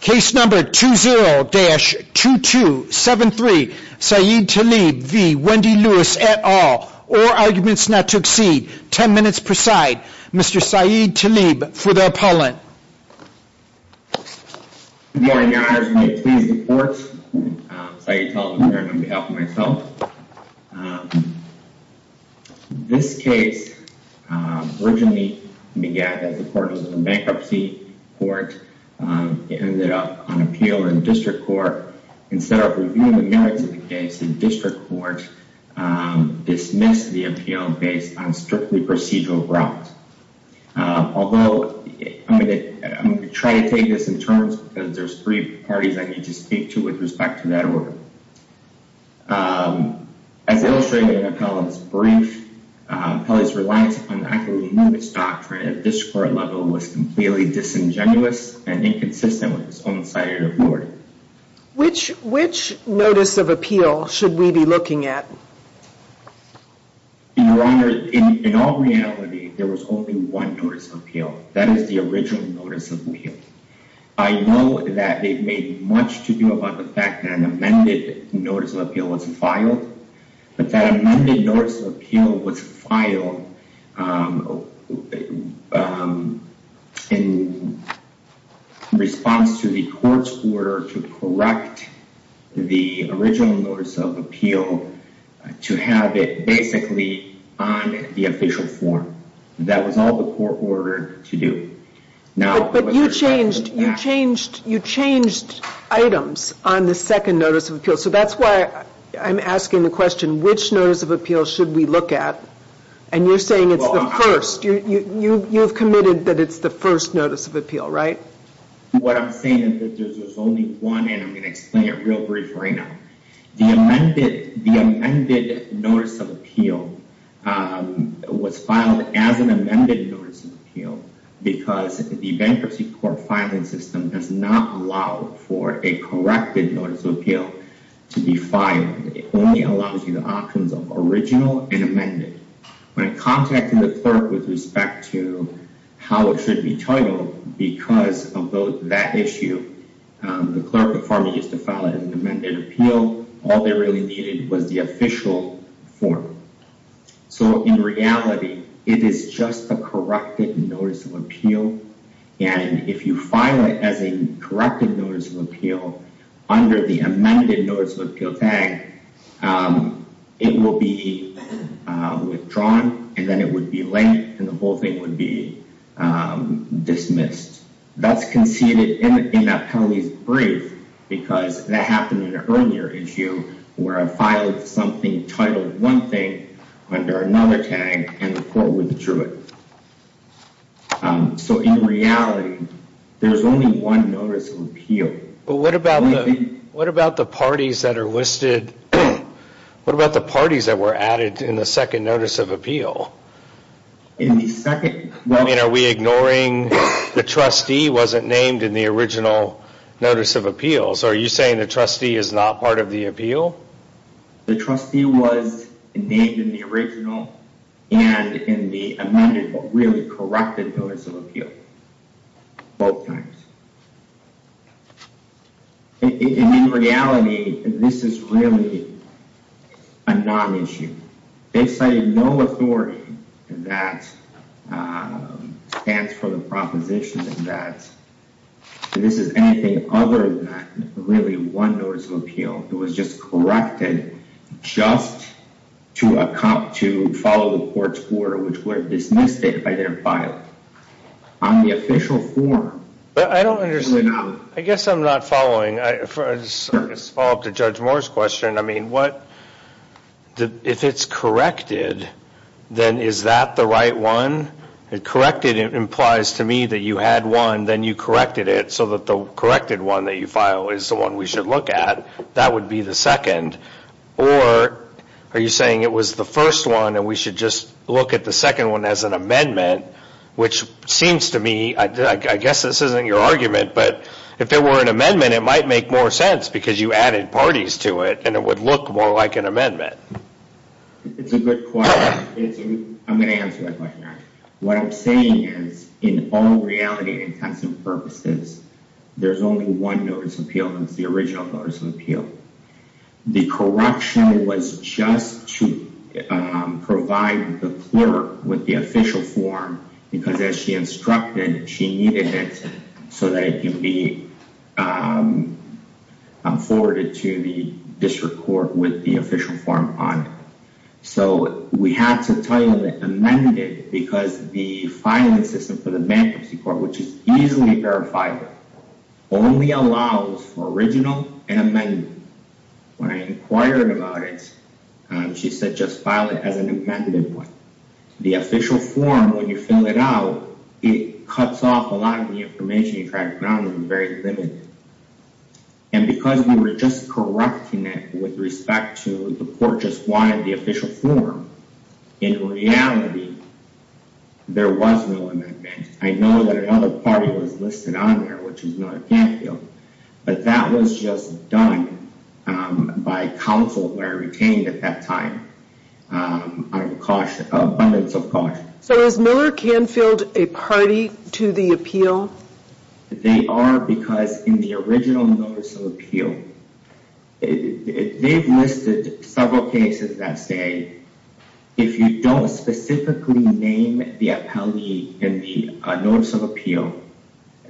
Case number 20-2273, Saeed Taleb v. Wendy Lewis et al. All arguments not to exceed 10 minutes per side. Mr. Saeed Taleb for the appellant. Good morning your honors, may it please the courts. Saeed Taleb here on behalf of myself. This case originally began as a court of bankruptcy court. It ended up on appeal in district court. Instead of reviewing the merits of the case, the district court dismissed the appeal based on strictly procedural route. Although I'm going to try to take this in order. As illustrated in the appellant's brief, the appellant's reliance on the act of removing its doctrine at district court level was completely disingenuous and inconsistent with its own side of the board. Which notice of appeal should we be looking at? Your honor, in all reality there was only one notice of appeal. That is the original notice of appeal. I know that they've made much to do about the fact that an amended notice of appeal was filed. But that amended notice of appeal was filed in response to the court's order to correct the original notice of appeal to have it basically on the official form. That was all the court ordered to do. But you changed items on the second notice of appeal. So that's why I'm asking the question, which notice of appeal should we look at? And you're saying it's the first. You've committed that it's the first notice of appeal, right? What I'm saying is that there's only one, I'm going to explain it real brief right now. The amended notice of appeal was filed as an amended notice of appeal because the bankruptcy court filing system does not allow for a corrected notice of appeal to be filed. It only allows you the options of original and amended. When I contacted the clerk with respect to how it should be titled because of that issue, the clerk of pharma used to file it as an amended appeal. All they really needed was the official form. So in reality, it is just a corrected notice of appeal. And if you file it as a corrected notice of appeal under the amended notice of appeal tag, it will be withdrawn and then it would be linked and the whole thing would be briefed because that happened in an earlier issue where I filed something titled one thing under another tag and the court withdrew it. So in reality, there's only one notice of appeal. But what about the parties that were added in the second notice of appeal? In the second? I mean, are we ignoring the trustee wasn't named in the original notice of appeal? So are you saying the trustee is not part of the appeal? The trustee was named in the original and in the amended, but really corrected notice of appeal both times. In reality, this is really a non-issue. They cited no authority that stands for the proposition that this is anything other than really one notice of appeal. It was just corrected just to account to follow the court's order which were dismissed it by their file. On the official form. I don't understand. I guess I'm not following. I just follow up to Judge Moore's question. I mean, if it's corrected, then is that the right one? Corrected implies to me that you had one, then you corrected it so that the corrected one that you file is the one we should look at. That would be the second. Or are you saying it was the first one and we should just look at the second one as an amendment which seems to me, I guess this isn't your argument, but if there were an amendment it might make more sense because you added parties to it and it would look more like an amendment. It's a good point. I'm going to answer that question. What I'm saying is in all reality and intensive purposes, there's only one notice of appeal and it's the original notice of appeal. The correction was just to provide the clerk with the official form because as she instructed, she needed it so that it can be forwarded to the district court with the official form on it. So, we had to title it amended because the filing system for the bankruptcy court, which is easily verified, only allows for original and amendment. When I inquired about it, she said just file it as an amended one. The official form, when you fill it out, it cuts off a lot of the information you track down and is very limited. And because we were just correcting it with respect to the court just wanted the official form, in reality, there was no amendment. I know that another party was listed on there, which was Miller Canfield, but that was just done by counsel where retained at that time out of abundance of caution. So, is Miller Canfield a party to the appeal? They are because in the original notice of appeal, they've listed several cases that say if you don't specifically name the appellee in the notice of appeal,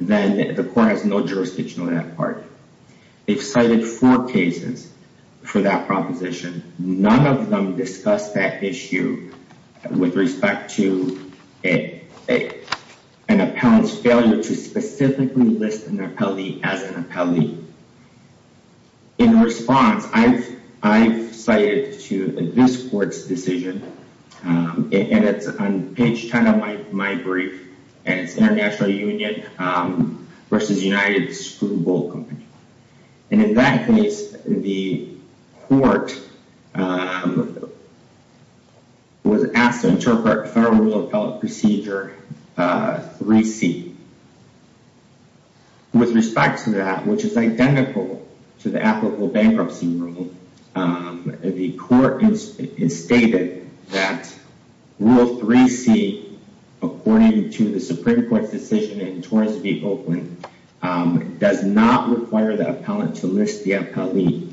then the court has no jurisdiction on that part. They've cited four cases for that proposition. None of them discuss that issue with respect to an appellant's failure to specifically list an appellee as an appellee. In response, I've cited to this court's decision, and it's on page 10 of my brief, and it's International Union versus United Screwball Company. And in that case, the court was asked to interpret Federal Rule of Appellate Procedure 3C. With respect to that, which is identical to the applicable bankruptcy rule, the court stated that Rule 3C, according to the Supreme Court's decision in Torrance v. Oakland, does not require the appellant to list the appellee.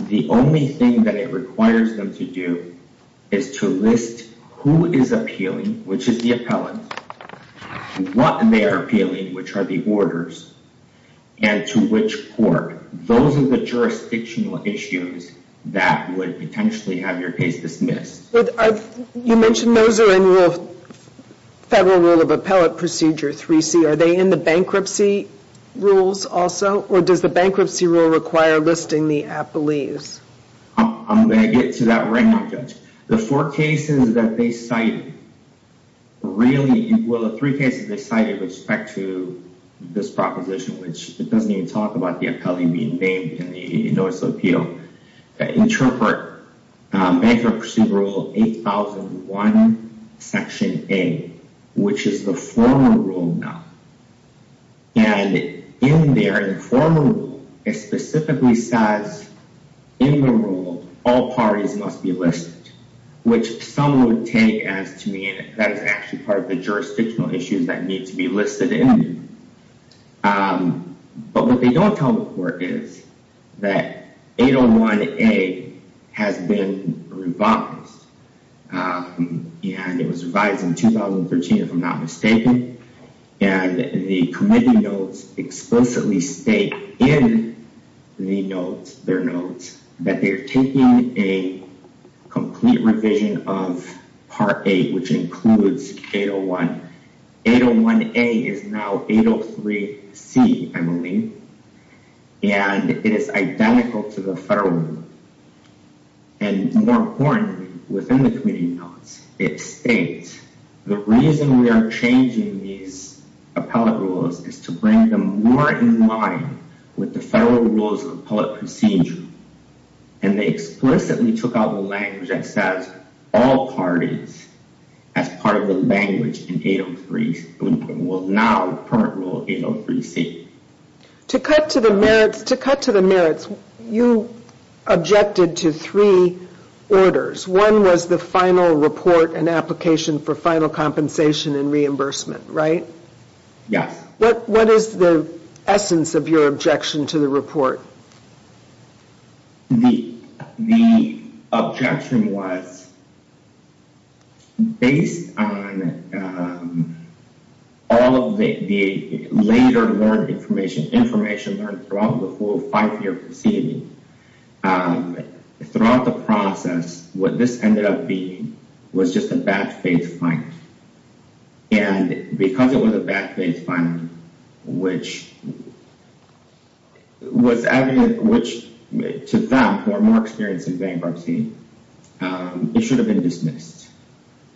The only thing that it requires them to is to list who is appealing, which is the appellant, and what they are appealing, which are the orders, and to which court. Those are the jurisdictional issues that would potentially have your case dismissed. You mentioned those are in Federal Rule of Appellate Procedure 3C. Are they in the bankruptcy rules also, or does the bankruptcy rule require listing the appellees? I'm going to get to that right now, Judge. The four cases that they cited, really, well, the three cases they cited with respect to this proposition, which it doesn't even talk about the appellee being named in the notice of appeal, interpret Bankruptcy Rule 8001, Section A, which is the former rule now. And in there, the former rule, it specifically says, in the rule, all parties must be listed, which some would take as to mean that is actually part of the jurisdictional issues that need to be listed in. But what they don't tell the court is that 801A has been revised, and it was revised in 2013, if I'm not mistaken. And the committee notes explicitly state in the notes, their notes, that they're taking a complete revision of Part 8, which includes 801. 801A is now 803C, Emily. And it is identical to the Federal Rule. And more importantly, within the committee notes, it states, the reason we are changing these appellate rules is to bring them more in line with the Federal Rules of Appellate Procedure. And they explicitly took out the language that says, all parties, as part of the language in 803, well, now, the current rule, 803C. To cut to the merits, you objected to three orders. One was the final report and application for final compensation and reimbursement, right? Yes. What is the essence of your objection to the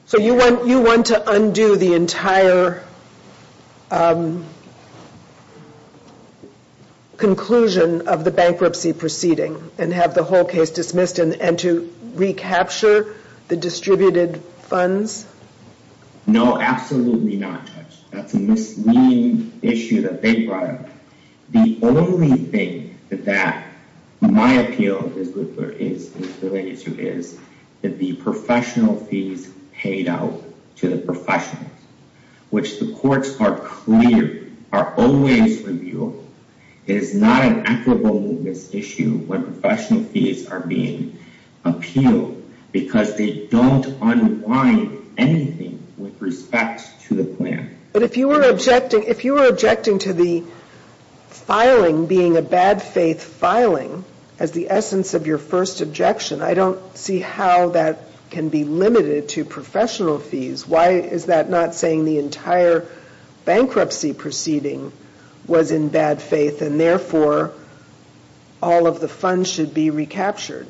So, you want to undo the entire conclusion of the bankruptcy proceeding and have the whole case dismissed and to recapture the distributed funds? No, absolutely not, Judge. That's a misleading issue that they brought up. The only thing that my appeal is related to is that the professional fees paid out to the is not an equitable movement issue when professional fees are being appealed because they don't unwind anything with respect to the plan. But if you were objecting to the filing being a bad faith filing as the essence of your first objection, I don't see how that can be limited to professional fees. Why is that not saying the entire bankruptcy proceeding was in bad faith and therefore all of the funds should be recaptured?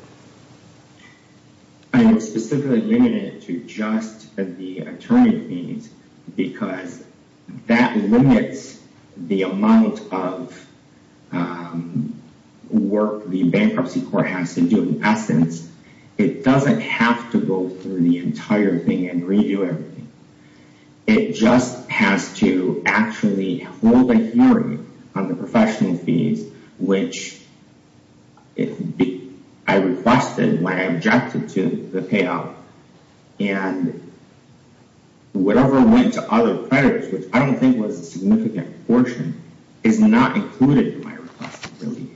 I'm specifically limited to just the attorney fees because that limits the amount of work the bankruptcy court has to do in essence. It doesn't have to go through the entire thing and redo everything. It just has to actually hold a hearing on the professional fees, which I requested when I objected to the payout. And whatever went to other creditors, which I don't think was a significant portion, is not included in my request of relief.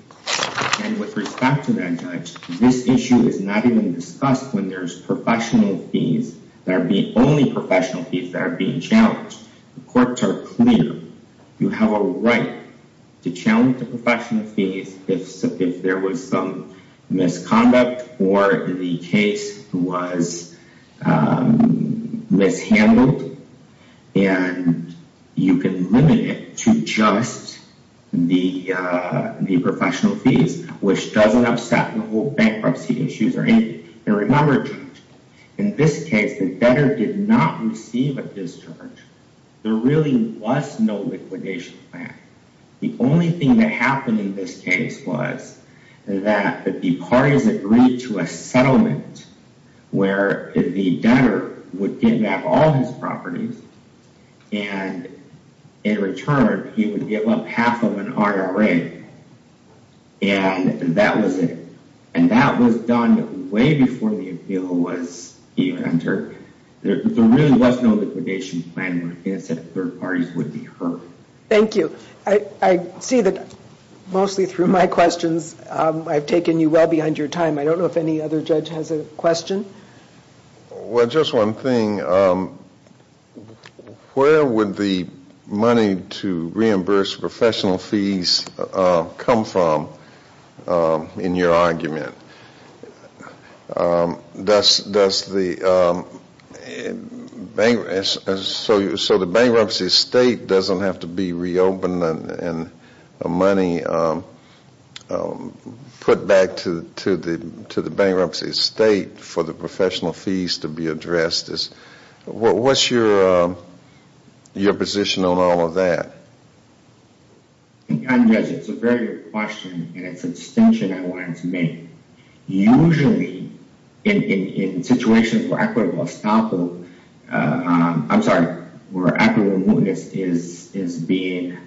And with respect to that, Judge, this issue is not even discussed when there's professional fees that are being only professional fees that are being challenged. The courts are clear. You have a right to challenge the professional fees if there was some misconduct or the case was mishandled. And you can limit it to just the professional fees, which doesn't upset the bankruptcy. And remember, in this case, the debtor did not receive a discharge. There really was no liquidation plan. The only thing that happened in this case was that the parties agreed to a settlement where the debtor would give back all his properties and in return, he would give up half of an RRA. And that was it. And that was done way before the appeal was even entered. There really was no liquidation plan where he said third parties would be heard. Thank you. I see that mostly through my questions, I've taken you well beyond your time. I don't know if any other judge has a question. Well, just one thing. Where would the money to reimburse professional fees come from, in your argument? Does the bank, so the bankruptcy estate doesn't have to be reopened and money put back to the bankruptcy estate for the professional fees to be addressed? What's your position on all of that? I'm just, it's a very good question and it's a distinction I wanted to make. Usually, in situations where equitable estoppel, I'm sorry, where equitable estoppel is not being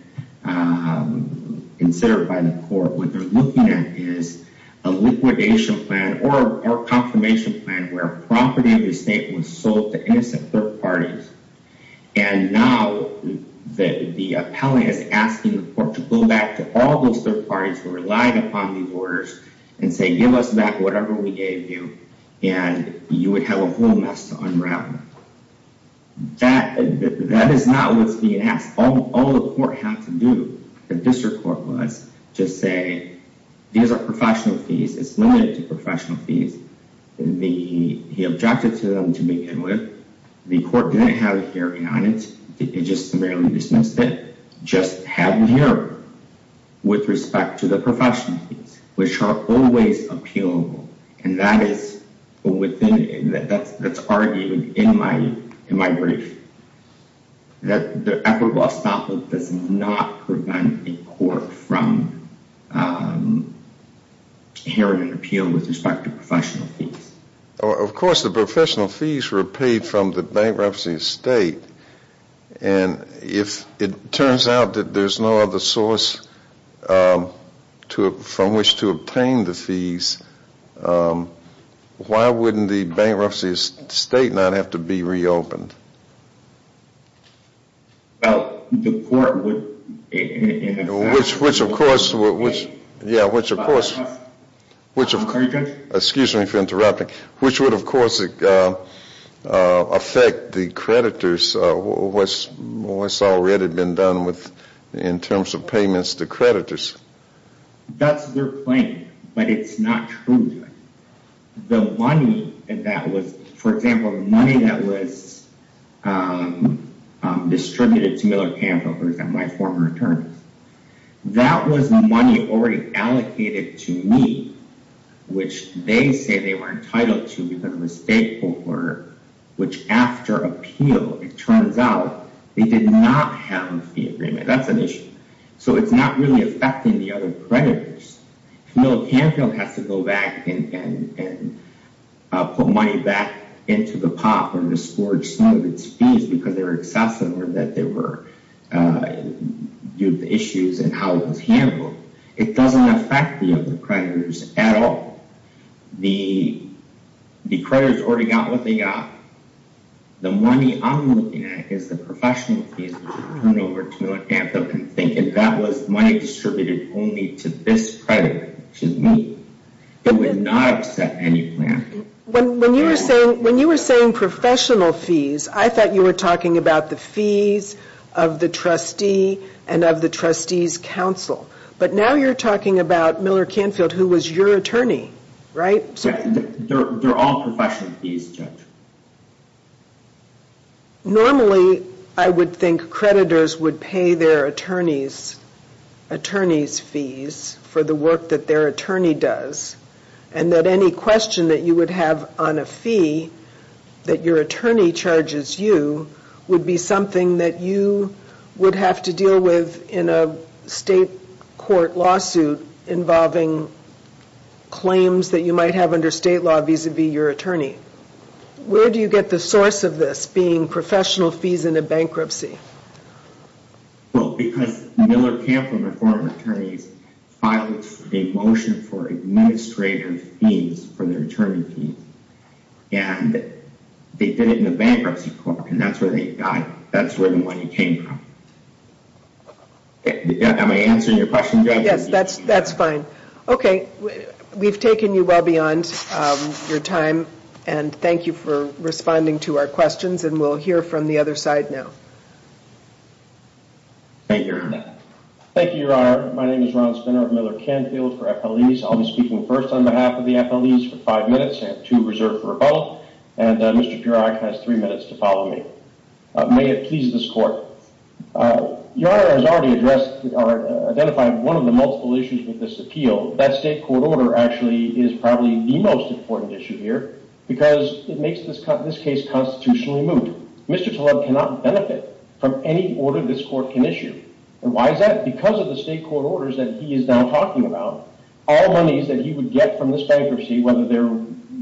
heard by the court, what they're looking at is a liquidation plan or a confirmation plan where property of the estate was sold to innocent third parties. And now that the appellant is asking the court to go back to all those third parties who relied upon these orders and say, give us back whatever we gave you and you would have a whole mess to say. These are professional fees. It's limited to professional fees. He objected to them to begin with. The court didn't have a hearing on it. It just merely dismissed it. Just had a hearing with respect to the professional fees, which are always appealable. And that is within, that's argued in my brief, that the equitable estoppel does not prevent the court from hearing an appeal with respect to professional fees. Of course, the professional fees were paid from the bankruptcy estate. And if it turns out that there's no other source from which to obtain the fees, why wouldn't the bankruptcy estate not have to be reopened? Well, the court would, which, which of course, which, yeah, which of course, which of course, excuse me for interrupting, which would of course affect the creditors, what's already been done with, in terms of payments to creditors. That's their plan, but it's not true. The money that was, for example, money that was distributed to Miller Canfield, for example, my former attorneys, that was money already allocated to me, which they say they were entitled to because of a state court order, which after appeal, it turns out they did not have a fee agreement. That's an issue. So it's not really affecting the other creditors. Miller Canfield has to go back and put money back into the POP or misforged some of its fees because they were excessive or that there were issues in how it was handled. It doesn't affect the other creditors at all. The creditors already got what they got. The money I'm looking at is the professional fees, which is turned over to Miller Canfield and thinking that was money distributed only to this creditor, which is me. It would not accept any plan. When you were saying professional fees, I thought you were talking about the fees of the trustee and of the trustee's counsel. But now you're talking about Miller Canfield, who was your attorney, right? They're all professional fees, Judge. Normally, I would think creditors would pay their attorneys' fees for the work that their attorney does, and that any question that you would have on a fee that your attorney charges you would be something that you would have to deal with in a state court lawsuit involving claims that you might have under state law vis-a-vis your attorney. Where do you get the source of this being professional fees in a bankruptcy? Well, because Miller Canfield and her former attorneys filed a motion for administrative fees for their attorney fees, and they did it in a bankruptcy court, and that's where the money came from. Am I answering your question, Judge? Yes, that's fine. Okay, we've taken you well beyond your time, and thank you for responding to our questions, and we'll hear from the other side now. Thank you, Your Honor. My name is Ron Spinner of Miller Canfield for FLEs. I'll be speaking first on behalf of the FLEs for five minutes. I have two reserved for rebuttal, and Mr. Piroc has three minutes to follow me. May it please this court. Your Honor has already identified one of the multiple issues with this appeal. That state court order actually is probably the most important issue here because it makes this case constitutionally Mr. Taleb cannot benefit from any order this court can issue, and why is that? Because of the state court orders that he is now talking about, all monies that he would get from this bankruptcy, whether they're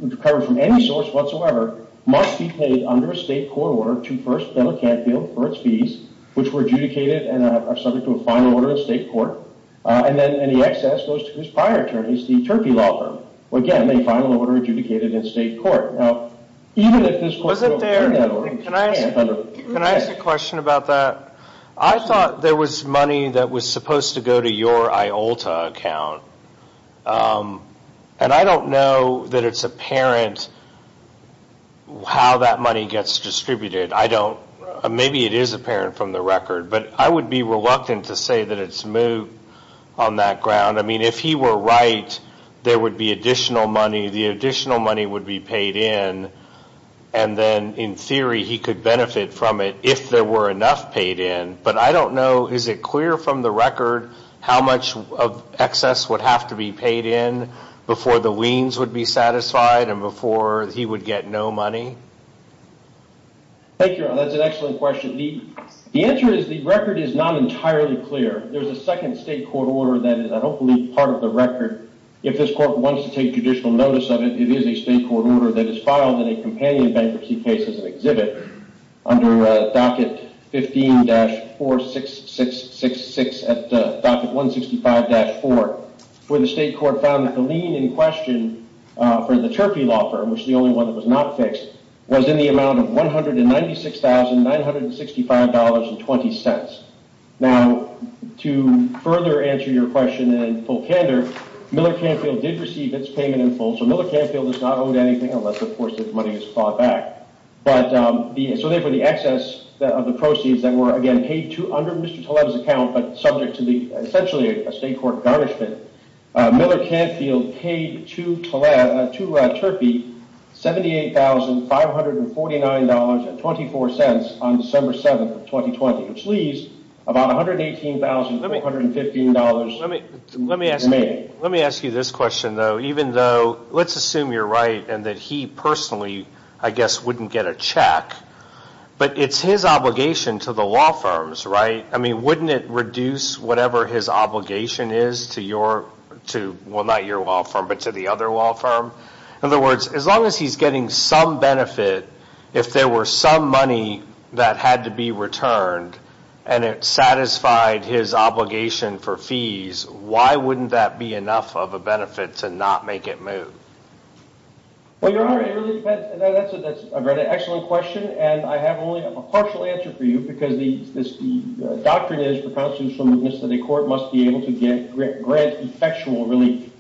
recovered from any source whatsoever, must be paid under a state court order to first Miller Canfield for its fees, which were adjudicated and are subject to a final order in state court, and then any excess goes to his prior attorneys, the Turkey Law Firm. Again, a final order adjudicated in state court. Can I ask a question about that? I thought there was money that was supposed to go to your IOLTA account, and I don't know that it's apparent how that money gets distributed. Maybe it is apparent from the record, but I would be reluctant to say that it's moot on that ground. I mean, if he were right, there would be additional money. The additional money would be paid in, and then in theory he could benefit from it if there were enough paid in, but I don't know, is it clear from the record how much of excess would have to be paid in before the liens would be satisfied and before he would get no money? Thank you, Your Honor. That's an excellent question. The answer is the record is not entirely clear. There's a second state court order that is, I don't believe, part of the record. If this court wants to take judicial notice of it, it is a state court order that is filed in a companion bankruptcy case as an exhibit under docket 15-46666 at docket 165-4, where the state court found that the lien in question for the Turpey law firm, which is the only one that was not fixed, was in the amount of $196,965.20. Now, to further answer your question in full candor, Miller Canfield did receive its payment in full, so Miller Canfield does not own anything unless, of course, the money is fought back, but so therefore the excess of the proceeds that were, again, paid to under Mr. Taleb's account, subject to essentially a state court garnishment, Miller Canfield paid to Turpey $78,549.24 on December 7th of 2020, which leaves about $118,515 to me. Let me ask you this question, though. Even though, let's assume you're right and that he personally, I guess, wouldn't get a check, but it's his obligation to the law firms, right? I mean, wouldn't it reduce whatever his obligation is to your, well, not your law firm, but to the other law firm? In other words, as long as he's getting some benefit, if there were some money that had to be returned and it satisfied his obligation for fees, why wouldn't that be enough of a benefit to not make it move? Well, you're right. It really depends. That's a very excellent question, and I have only a partial answer for you, because the doctrine is, propounds to us from this that a court must be able to grant effectual relief,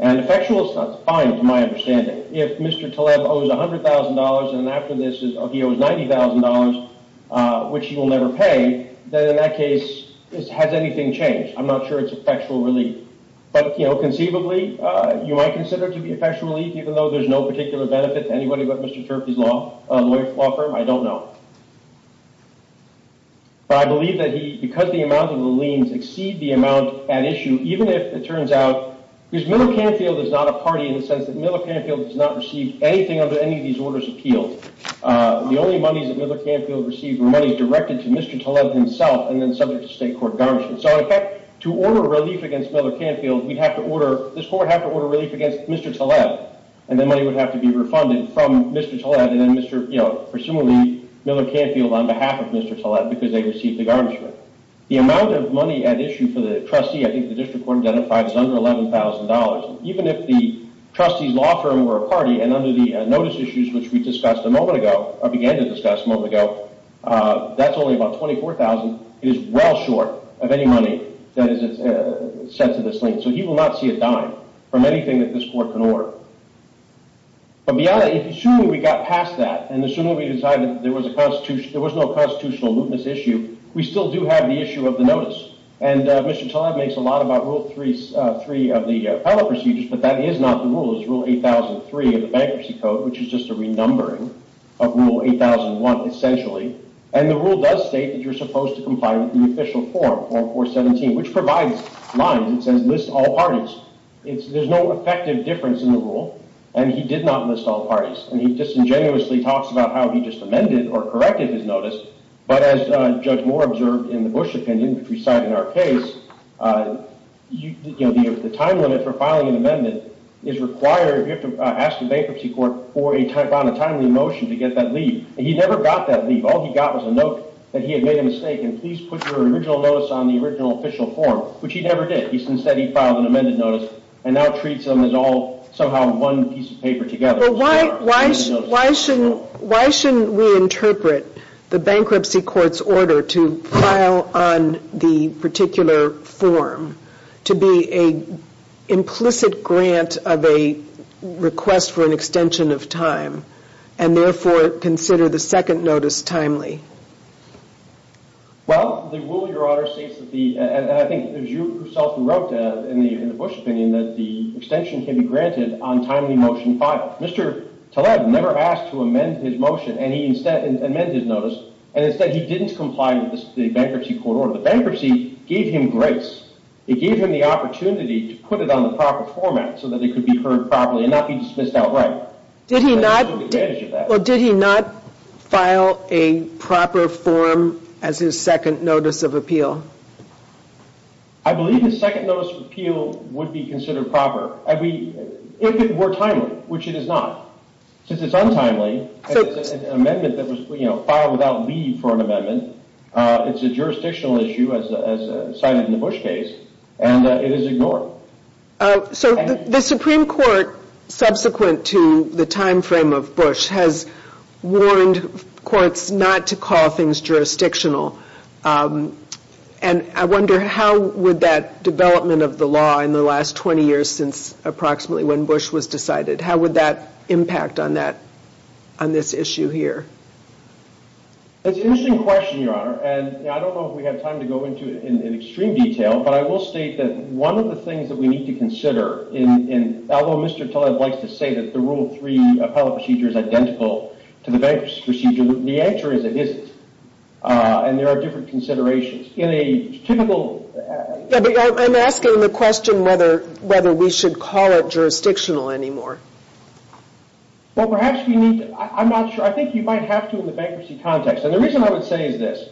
and effectual is not defined, to my understanding. If Mr. Taleb owes $100,000 and after this, he owes $90,000, which he will never pay, then in that case, this has anything changed. I'm not sure it's effectual relief, but conceivably, you might consider it to be effectual relief, even though there's no particular benefit to anybody but Mr. Turpey's law firm. I don't know. But I believe that he, because the amount of the liens exceed the amount at issue, even if it turns out, because Miller Canfield is not a party in the sense that Miller Canfield has not received anything under any of these orders of appeals. The only monies that Miller Canfield received were monies directed to Mr. Taleb himself, and then subject to state court garnishment. So in fact, to order relief against Miller Canfield, we'd have to order, this court would have to order relief against Mr. Taleb, and then money would have to be refunded from Mr. Taleb, and then presumably, Miller Canfield on behalf of Mr. Taleb, because they received the garnishment. The amount of money at issue for the trustee, I think the district court identified, is under $11,000. Even if the trustee's law firm were a party, and under the notice issues, which we discussed a moment ago, or began to discuss a moment ago, that's only about $24,000, it is well short of any money that is set to this lien. So he will not see a dime from anything that this court can order. But beyond that, assuming we got past that, and assuming we decided there was no constitutional mootness issue, we still do have the issue of the notice. And Mr. Taleb makes a lot about Rule 3 of the appellate procedures, but that is not the rule. It's Rule 8,003 of the Bankruptcy Code, which is just a renumbering of Rule 8,001, essentially. And the rule does state that you're supposed to comply with the official form, Form 417, which provides lines. It says, list all parties. There's no effective difference in the rule, and he did not list all parties. And he disingenuously talks about how he just amended or corrected his notice. But as Judge Moore observed in the Bush opinion, which we cite in our case, the time limit for filing an amendment is required if you have to ask a bankruptcy court for a timely motion to get that leave. All he got was a note that he had made a mistake, and please put your original notice on the original official form, which he never did. Instead, he filed an amended notice and now treats them as all somehow one piece of paper together. Well, why shouldn't we interpret the bankruptcy court's order to file on the particular form to be implicit grant of a request for an extension of time and therefore consider the second notice timely? Well, the rule, Your Honor, states that the, and I think it was you yourself who wrote in the Bush opinion, that the extension can be granted on timely motion 5. Mr. Taleb never asked to amend his motion, and he instead amended his notice, and instead he didn't comply with the bankruptcy It gave him the opportunity to put it on the proper format so that it could be heard properly and not be dismissed outright. Did he not file a proper form as his second notice of appeal? I believe his second notice of appeal would be considered proper, if it were timely, which it is not. Since it's untimely, and it's an amendment that was filed without leave for an amendment, it's a jurisdictional issue, as cited in the Bush case, and it is ignored. So the Supreme Court, subsequent to the time frame of Bush, has warned courts not to call things jurisdictional, and I wonder how would that development of the law in the last 20 years since approximately when Bush was decided, how would that impact on that, on this issue here? That's an interesting question, Your Honor, and I don't know if we have time to go into it in extreme detail, but I will state that one of the things that we need to consider, although Mr. Taleb likes to say that the Rule 3 appellate procedure is identical to the bankruptcy procedure, the answer is it isn't, and there are different considerations. In a typical... Yeah, but I'm asking the question whether we should call it jurisdictional anymore. Well, perhaps we need to. I'm not sure. I think you might have to in the bankruptcy context, and the reason I would say is this.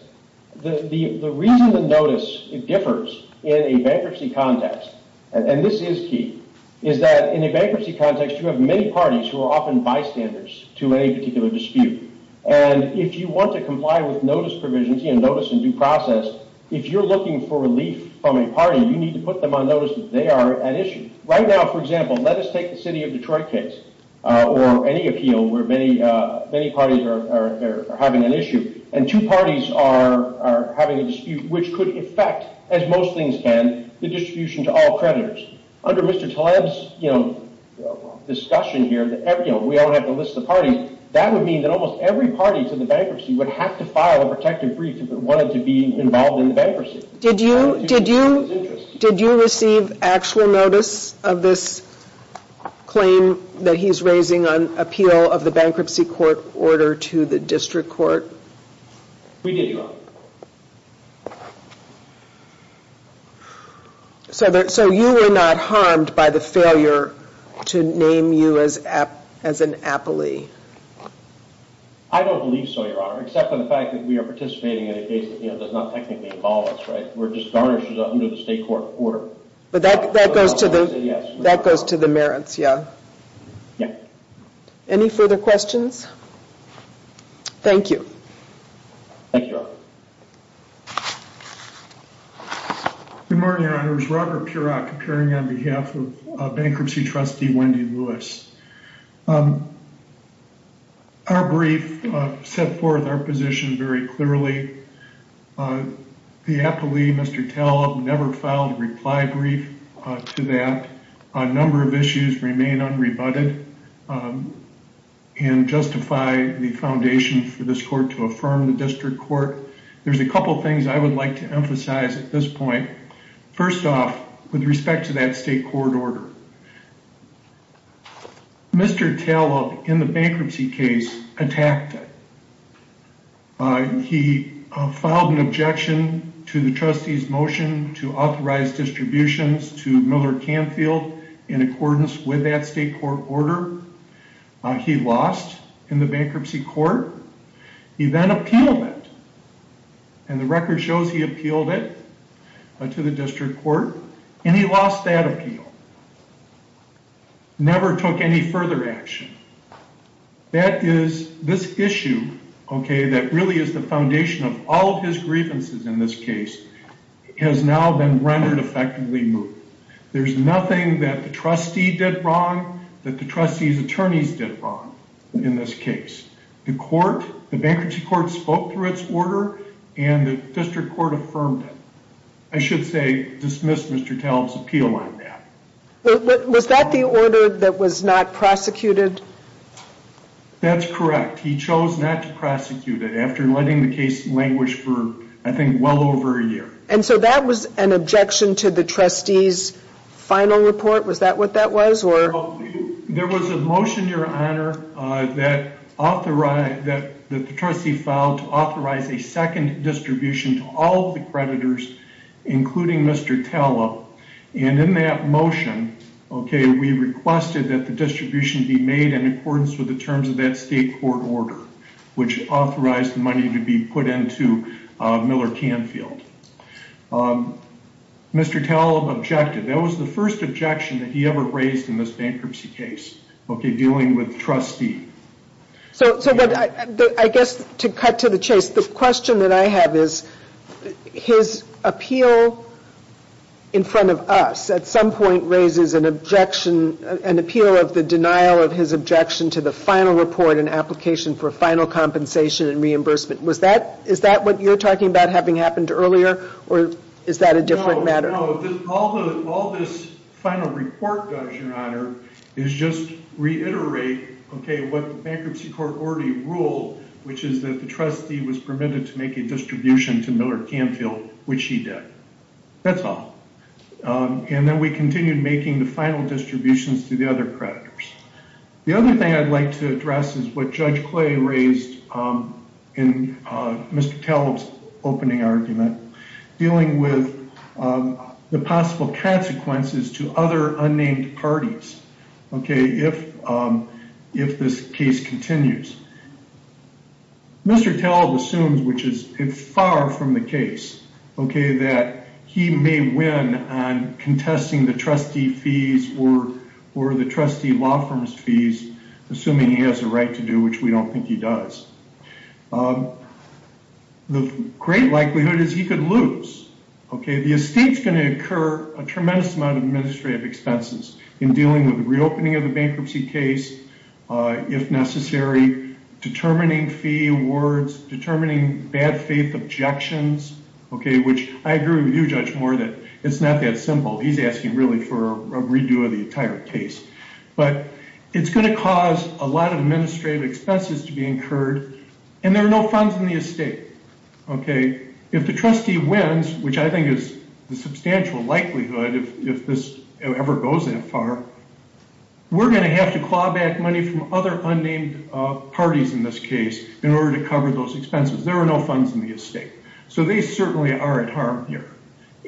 The reason the notice differs in a bankruptcy context, and this is key, is that in a bankruptcy context, you have many parties who are often bystanders to a particular dispute, and if you want to comply with notice provisions, notice in due process, if you're looking for relief from a party, you need to put them on notice that they are at issue. Right now, for example, let us take the city of Detroit case or any appeal where many parties are having an issue, and two parties are having a dispute, which could affect, as most things can, the distribution to all creditors. Under Mr. Taleb's discussion here that we don't have to list the parties, that would mean that almost every party to the bankruptcy would have to file a protective brief if it wanted to be involved in the bankruptcy. Did you receive actual notice? Of this claim that he's raising on appeal of the bankruptcy court order to the district court? We did, Your Honor. So you were not harmed by the failure to name you as an appellee? I don't believe so, Your Honor, except for the fact that we are participating in a case that does not technically involve us, right? We're just garnished under the state court order. But that goes to the merits, yeah. Any further questions? Thank you. Good morning, Your Honors. Robert Purok, appearing on behalf of Bankruptcy Trustee Wendy Lewis. Our brief set forth our position very clearly. The appellee, Mr. Taleb, never filed a reply brief to that. A number of issues remain unrebutted and justify the foundation for this court to affirm the district court. There's a couple things I would like to emphasize at this point. First off, with respect to that state court order, Mr. Taleb, in the bankruptcy case, attacked it. He filed an objection to the trustee's motion to authorize distributions to Miller Canfield in accordance with that state court order. He lost in the bankruptcy court. He then appealed it. And the record shows he appealed it to the district court, and he lost that appeal. He never took any further action. That is, this issue, okay, that really is the foundation of all of his grievances in this case, has now been rendered effectively moot. There's nothing that the trustee did wrong that the trustee's attorneys did wrong in this case. The court, the bankruptcy court spoke through its order, and the district court affirmed it. I should say, dismiss Mr. Taleb's appeal on that. Was that the order that was not prosecuted? That's correct. He chose not to prosecute it after letting the case languish for, I think, well over a year. And so that was an objection to the trustee's final report? Was that what that was? There was a motion, Your Honor, that the trustee filed to authorize a motion. And in that motion, okay, we requested that the distribution be made in accordance with the terms of that state court order, which authorized the money to be put into Miller Canfield. Mr. Taleb objected. That was the first objection that he ever raised in this bankruptcy case, okay, dealing with trustee. So I guess to cut to the chase, the question that I have is, his appeal in front of us at some point raises an objection, an appeal of the denial of his objection to the final report and application for final compensation and reimbursement. Is that what you're talking about having happened earlier, or is that a different matter? All this final report does, Your Honor, is just reiterate, okay, what the bankruptcy court already which he did. That's all. And then we continued making the final distributions to the other creditors. The other thing I'd like to address is what Judge Clay raised in Mr. Taleb's opening argument dealing with the possible consequences to other unnamed parties, okay, if this case continues. Mr. Taleb assumes, which is far from the case, okay, that he may win on contesting the trustee fees or the trustee law firm's fees, assuming he has a right to do, which we don't think he does. The great likelihood is he could lose, okay. The estate's going to incur a tremendous amount of administrative expenses in dealing with the reopening of the bankruptcy case, if necessary, determining fee awards, determining bad faith objections, okay, which I agree with you, Judge Moore, that it's not that simple. He's asking really for a redo of the entire case. But it's going to cause a lot of administrative expenses to be incurred, and there are no funds in the estate, okay. If the case continues, if this ever goes that far, we're going to have to claw back money from other unnamed parties in this case in order to cover those expenses. There are no funds in the estate. So they certainly are at harm here,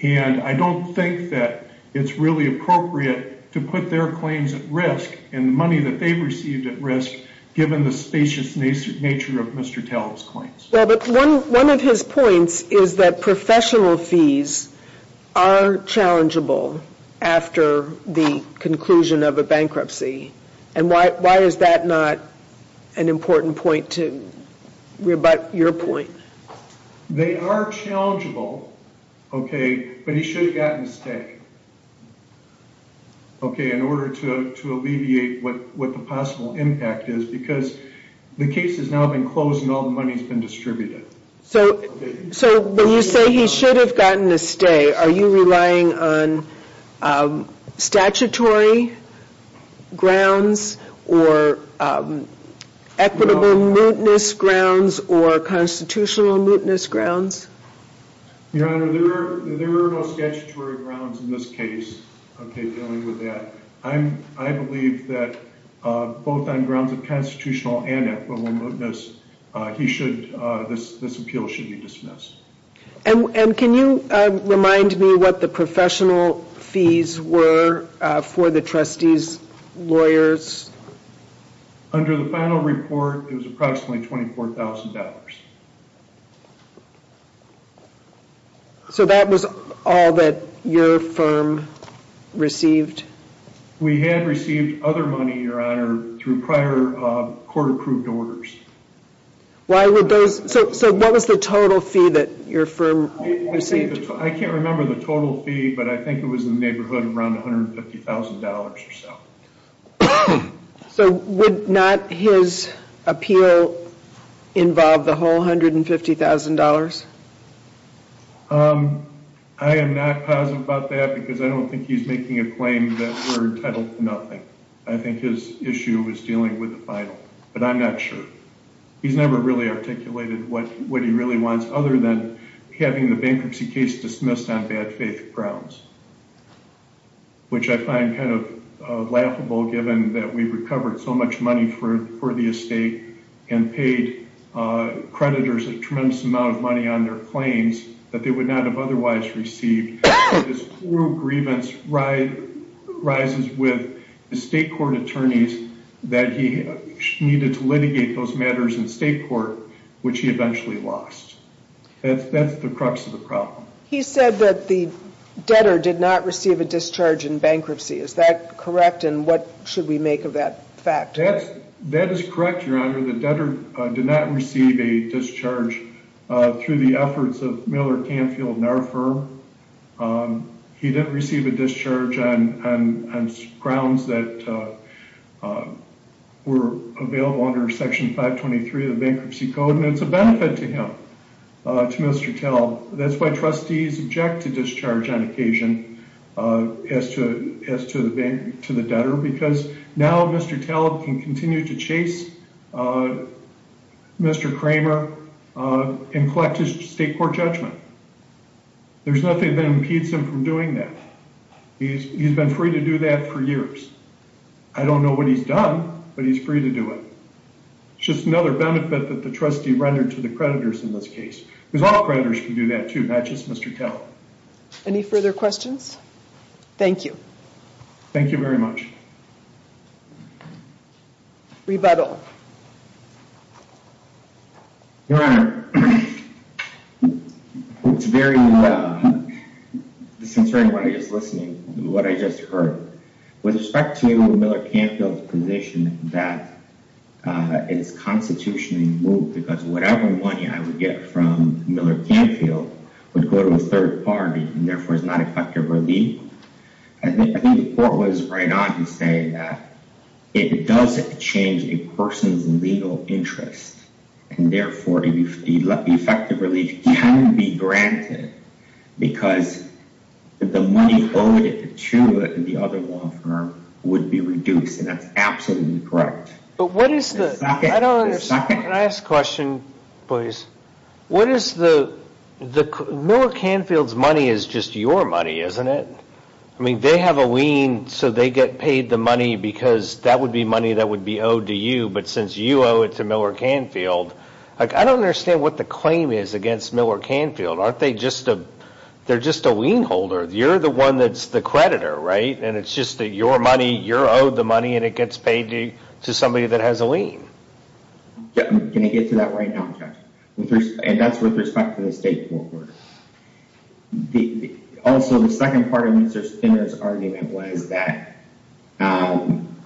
and I don't think that it's really appropriate to put their claims at risk and the money that they've received at risk, given the spacious nature of Mr. Taleb's case. Well, but one of his points is that professional fees are challengeable after the conclusion of a bankruptcy, and why is that not an important point to rebut your point? They are challengeable, okay, but he should have gotten a stake, okay, in order to alleviate what the possible impact is, because the case has now been closed and all the money's been distributed. So when you say he should have gotten a stay, are you relying on statutory grounds or equitable mootness grounds or constitutional mootness grounds? Your Honor, there are no statutory grounds in this case, okay, dealing with that. I believe that both on grounds of constitutional and equitable mootness, this appeal should be dismissed. And can you remind me what the professional fees were for the trustee's lawyers? Under the final report, it was approximately $24,000. So that was all that your firm received? We had received other money, Your Honor, through prior court-approved orders. So what was the total fee that your firm received? I can't remember the total fee, but I think it was in the neighborhood of around $150,000 or so. So would not his appeal involve the whole $150,000? I am not positive about that, because I don't think he's making a claim that we're entitled to nothing. I think his issue was dealing with the final, but I'm not sure. He's never really articulated what he really wants, other than having the bankruptcy case dismissed on bad faith grounds, which I find kind of laughable, given that we've recovered so much money for the estate and paid creditors a tremendous amount of money on their claims that they would not have otherwise received. This cruel grievance rises with the state court attorneys that he needed to litigate those matters in state court, which he eventually lost. That's the crux of the problem. He said that the debtor did not receive a discharge in bankruptcy. Is that correct, and what should we make of that fact? That is correct, Your Honor. The debtor did not receive a discharge through the efforts of Miller Canfield and our firm. He didn't receive a discharge on grounds that were available under Section 523 of the Bankruptcy Act. The trustees object to discharge on occasion as to the debtor because now Mr. Taleb can continue to chase Mr. Kramer and collect his state court judgment. There's nothing that impedes him from doing that. He's been free to do that for years. I don't know what he's done, but he's free to do it. It's just another benefit that the trustee rendered to the creditors in this case. Because creditors can do that too, not just Mr. Taleb. Any further questions? Thank you. Thank you very much. Rebuttal. Your Honor, it's very disconcerting what I just heard. With respect to Miller Canfield's position that it's constitutionally moved because whatever money I would get from Miller Canfield would go to a third party and therefore is not effective relief. I think the court was right on to say that it doesn't change a person's legal interest and therefore effective relief can be granted because the money owed to the other law firm would be reduced and that's absolutely correct. But what is the... Can I ask a question, please? What is the... Miller Canfield's money is just your money, isn't it? I mean, they have a lien so they get paid the money because that would be money that would be owed to you, but since you owe it to Miller Canfield... I don't understand what the claim is against Miller Canfield. Aren't they just a... They're just a lien holder. You're the one that's the creditor, right? And it's just your money, you're owed the money, and it gets paid to somebody that has a lien. Can I get to that right now? And that's with respect to the state court. Also, the second part of Mr. Spinner's argument was that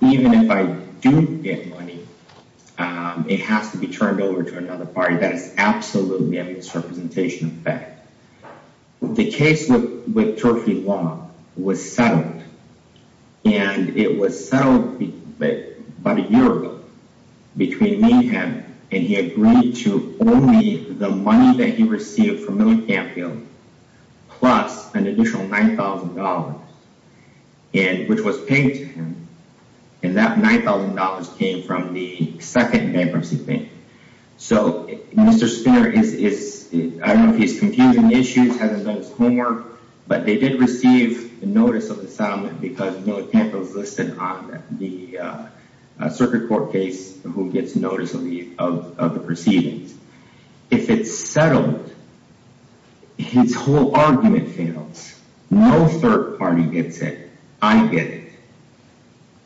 even if I do get money, it has to be turned over to another party. That is absolutely a misrepresentation of fact. The case with Turfey Law was settled, and it was settled about a year ago between me and him, and he agreed to only the money that he received from Miller Canfield plus an additional $9,000, which was paid to him, and that $9,000 came from the second bankruptcy payment. So Mr. Spinner is... I don't know if he's confused on the issues, hasn't done his homework, but they did receive the notice of the settlement because Miller Canfield is listed on the circuit court case who gets notice of the proceedings. If it's settled, his whole argument fails. No third party gets it. I get it,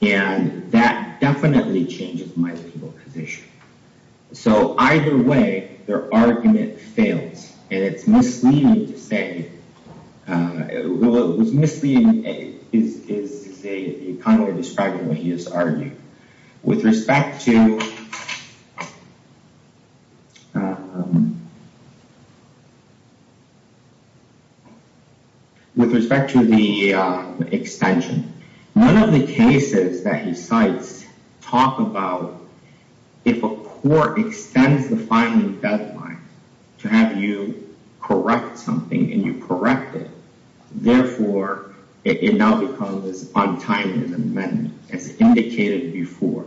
and that definitely changes my legal position. So either way, their argument fails, and it's misleading to say... What's misleading is to say that you're kind of describing what he has argued. With respect to... With respect to the extension, one of the cases that he cites talk about if a court extends the filing deadline to have you correct something, and you correct it, therefore it now becomes on time in the amendment, as indicated before.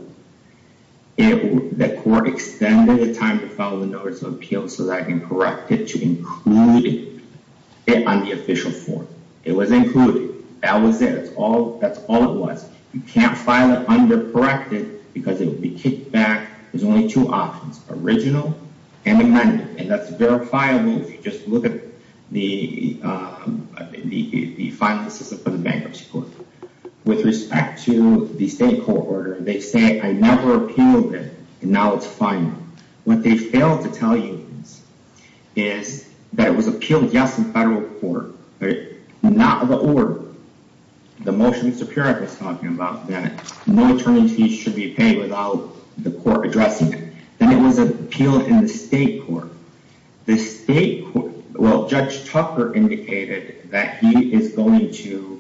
The court extended the time to file the notice of appeal so that I can correct it to include it on the official form. It was included. That was it. That's all it was. You can't file it under corrected because it will be kicked back. There's only two options, original and amended, and that's verifiable if you just look at the filing system for the bankruptcy court. With respect to the state court order, they say, I never appealed it, and now it's final. What they failed to tell you is that it was appealed, yes, in federal court, but not the order. The motion in Superior was talking about that no attorneys fees should be paid without the court addressing it. Then it was appealed in the state court. The state court... Well, Judge Tucker indicated that he is going to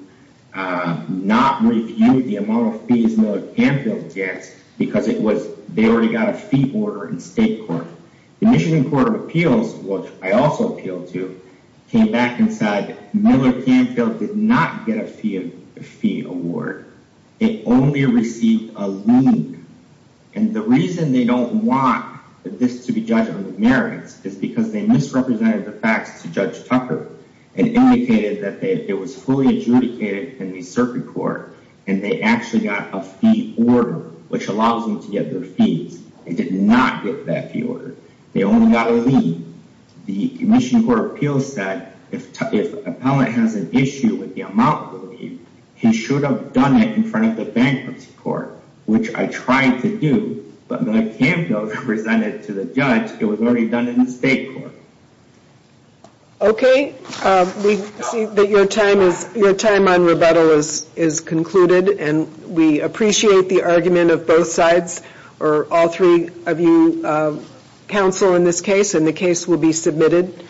not review the amount of fees that Miller-Canfield gets because they already got a fee order in state court. The Michigan Court of Appeals, which I also appealed to, came back and said Miller-Canfield did not get a fee award. They only received a lien, and the reason they don't want this to be judged on the merits is because they misrepresented the facts to Judge Tucker and indicated that it was fully adjudicated in the circuit court, and they actually got a fee order, which allows them to get their fees. They did not get that fee order. They only got a lien. The Michigan Court of Appeals said if an appellant has an issue with the amount of the lien, he should have done it in front of the bankruptcy court, which I tried to do, but Miller-Canfield presented to the judge it was already done in the state court. Okay, we see that your time on rebuttal is concluded, and we appreciate the argument of both sides, or all three of you counsel in this case, and the case will be submitted.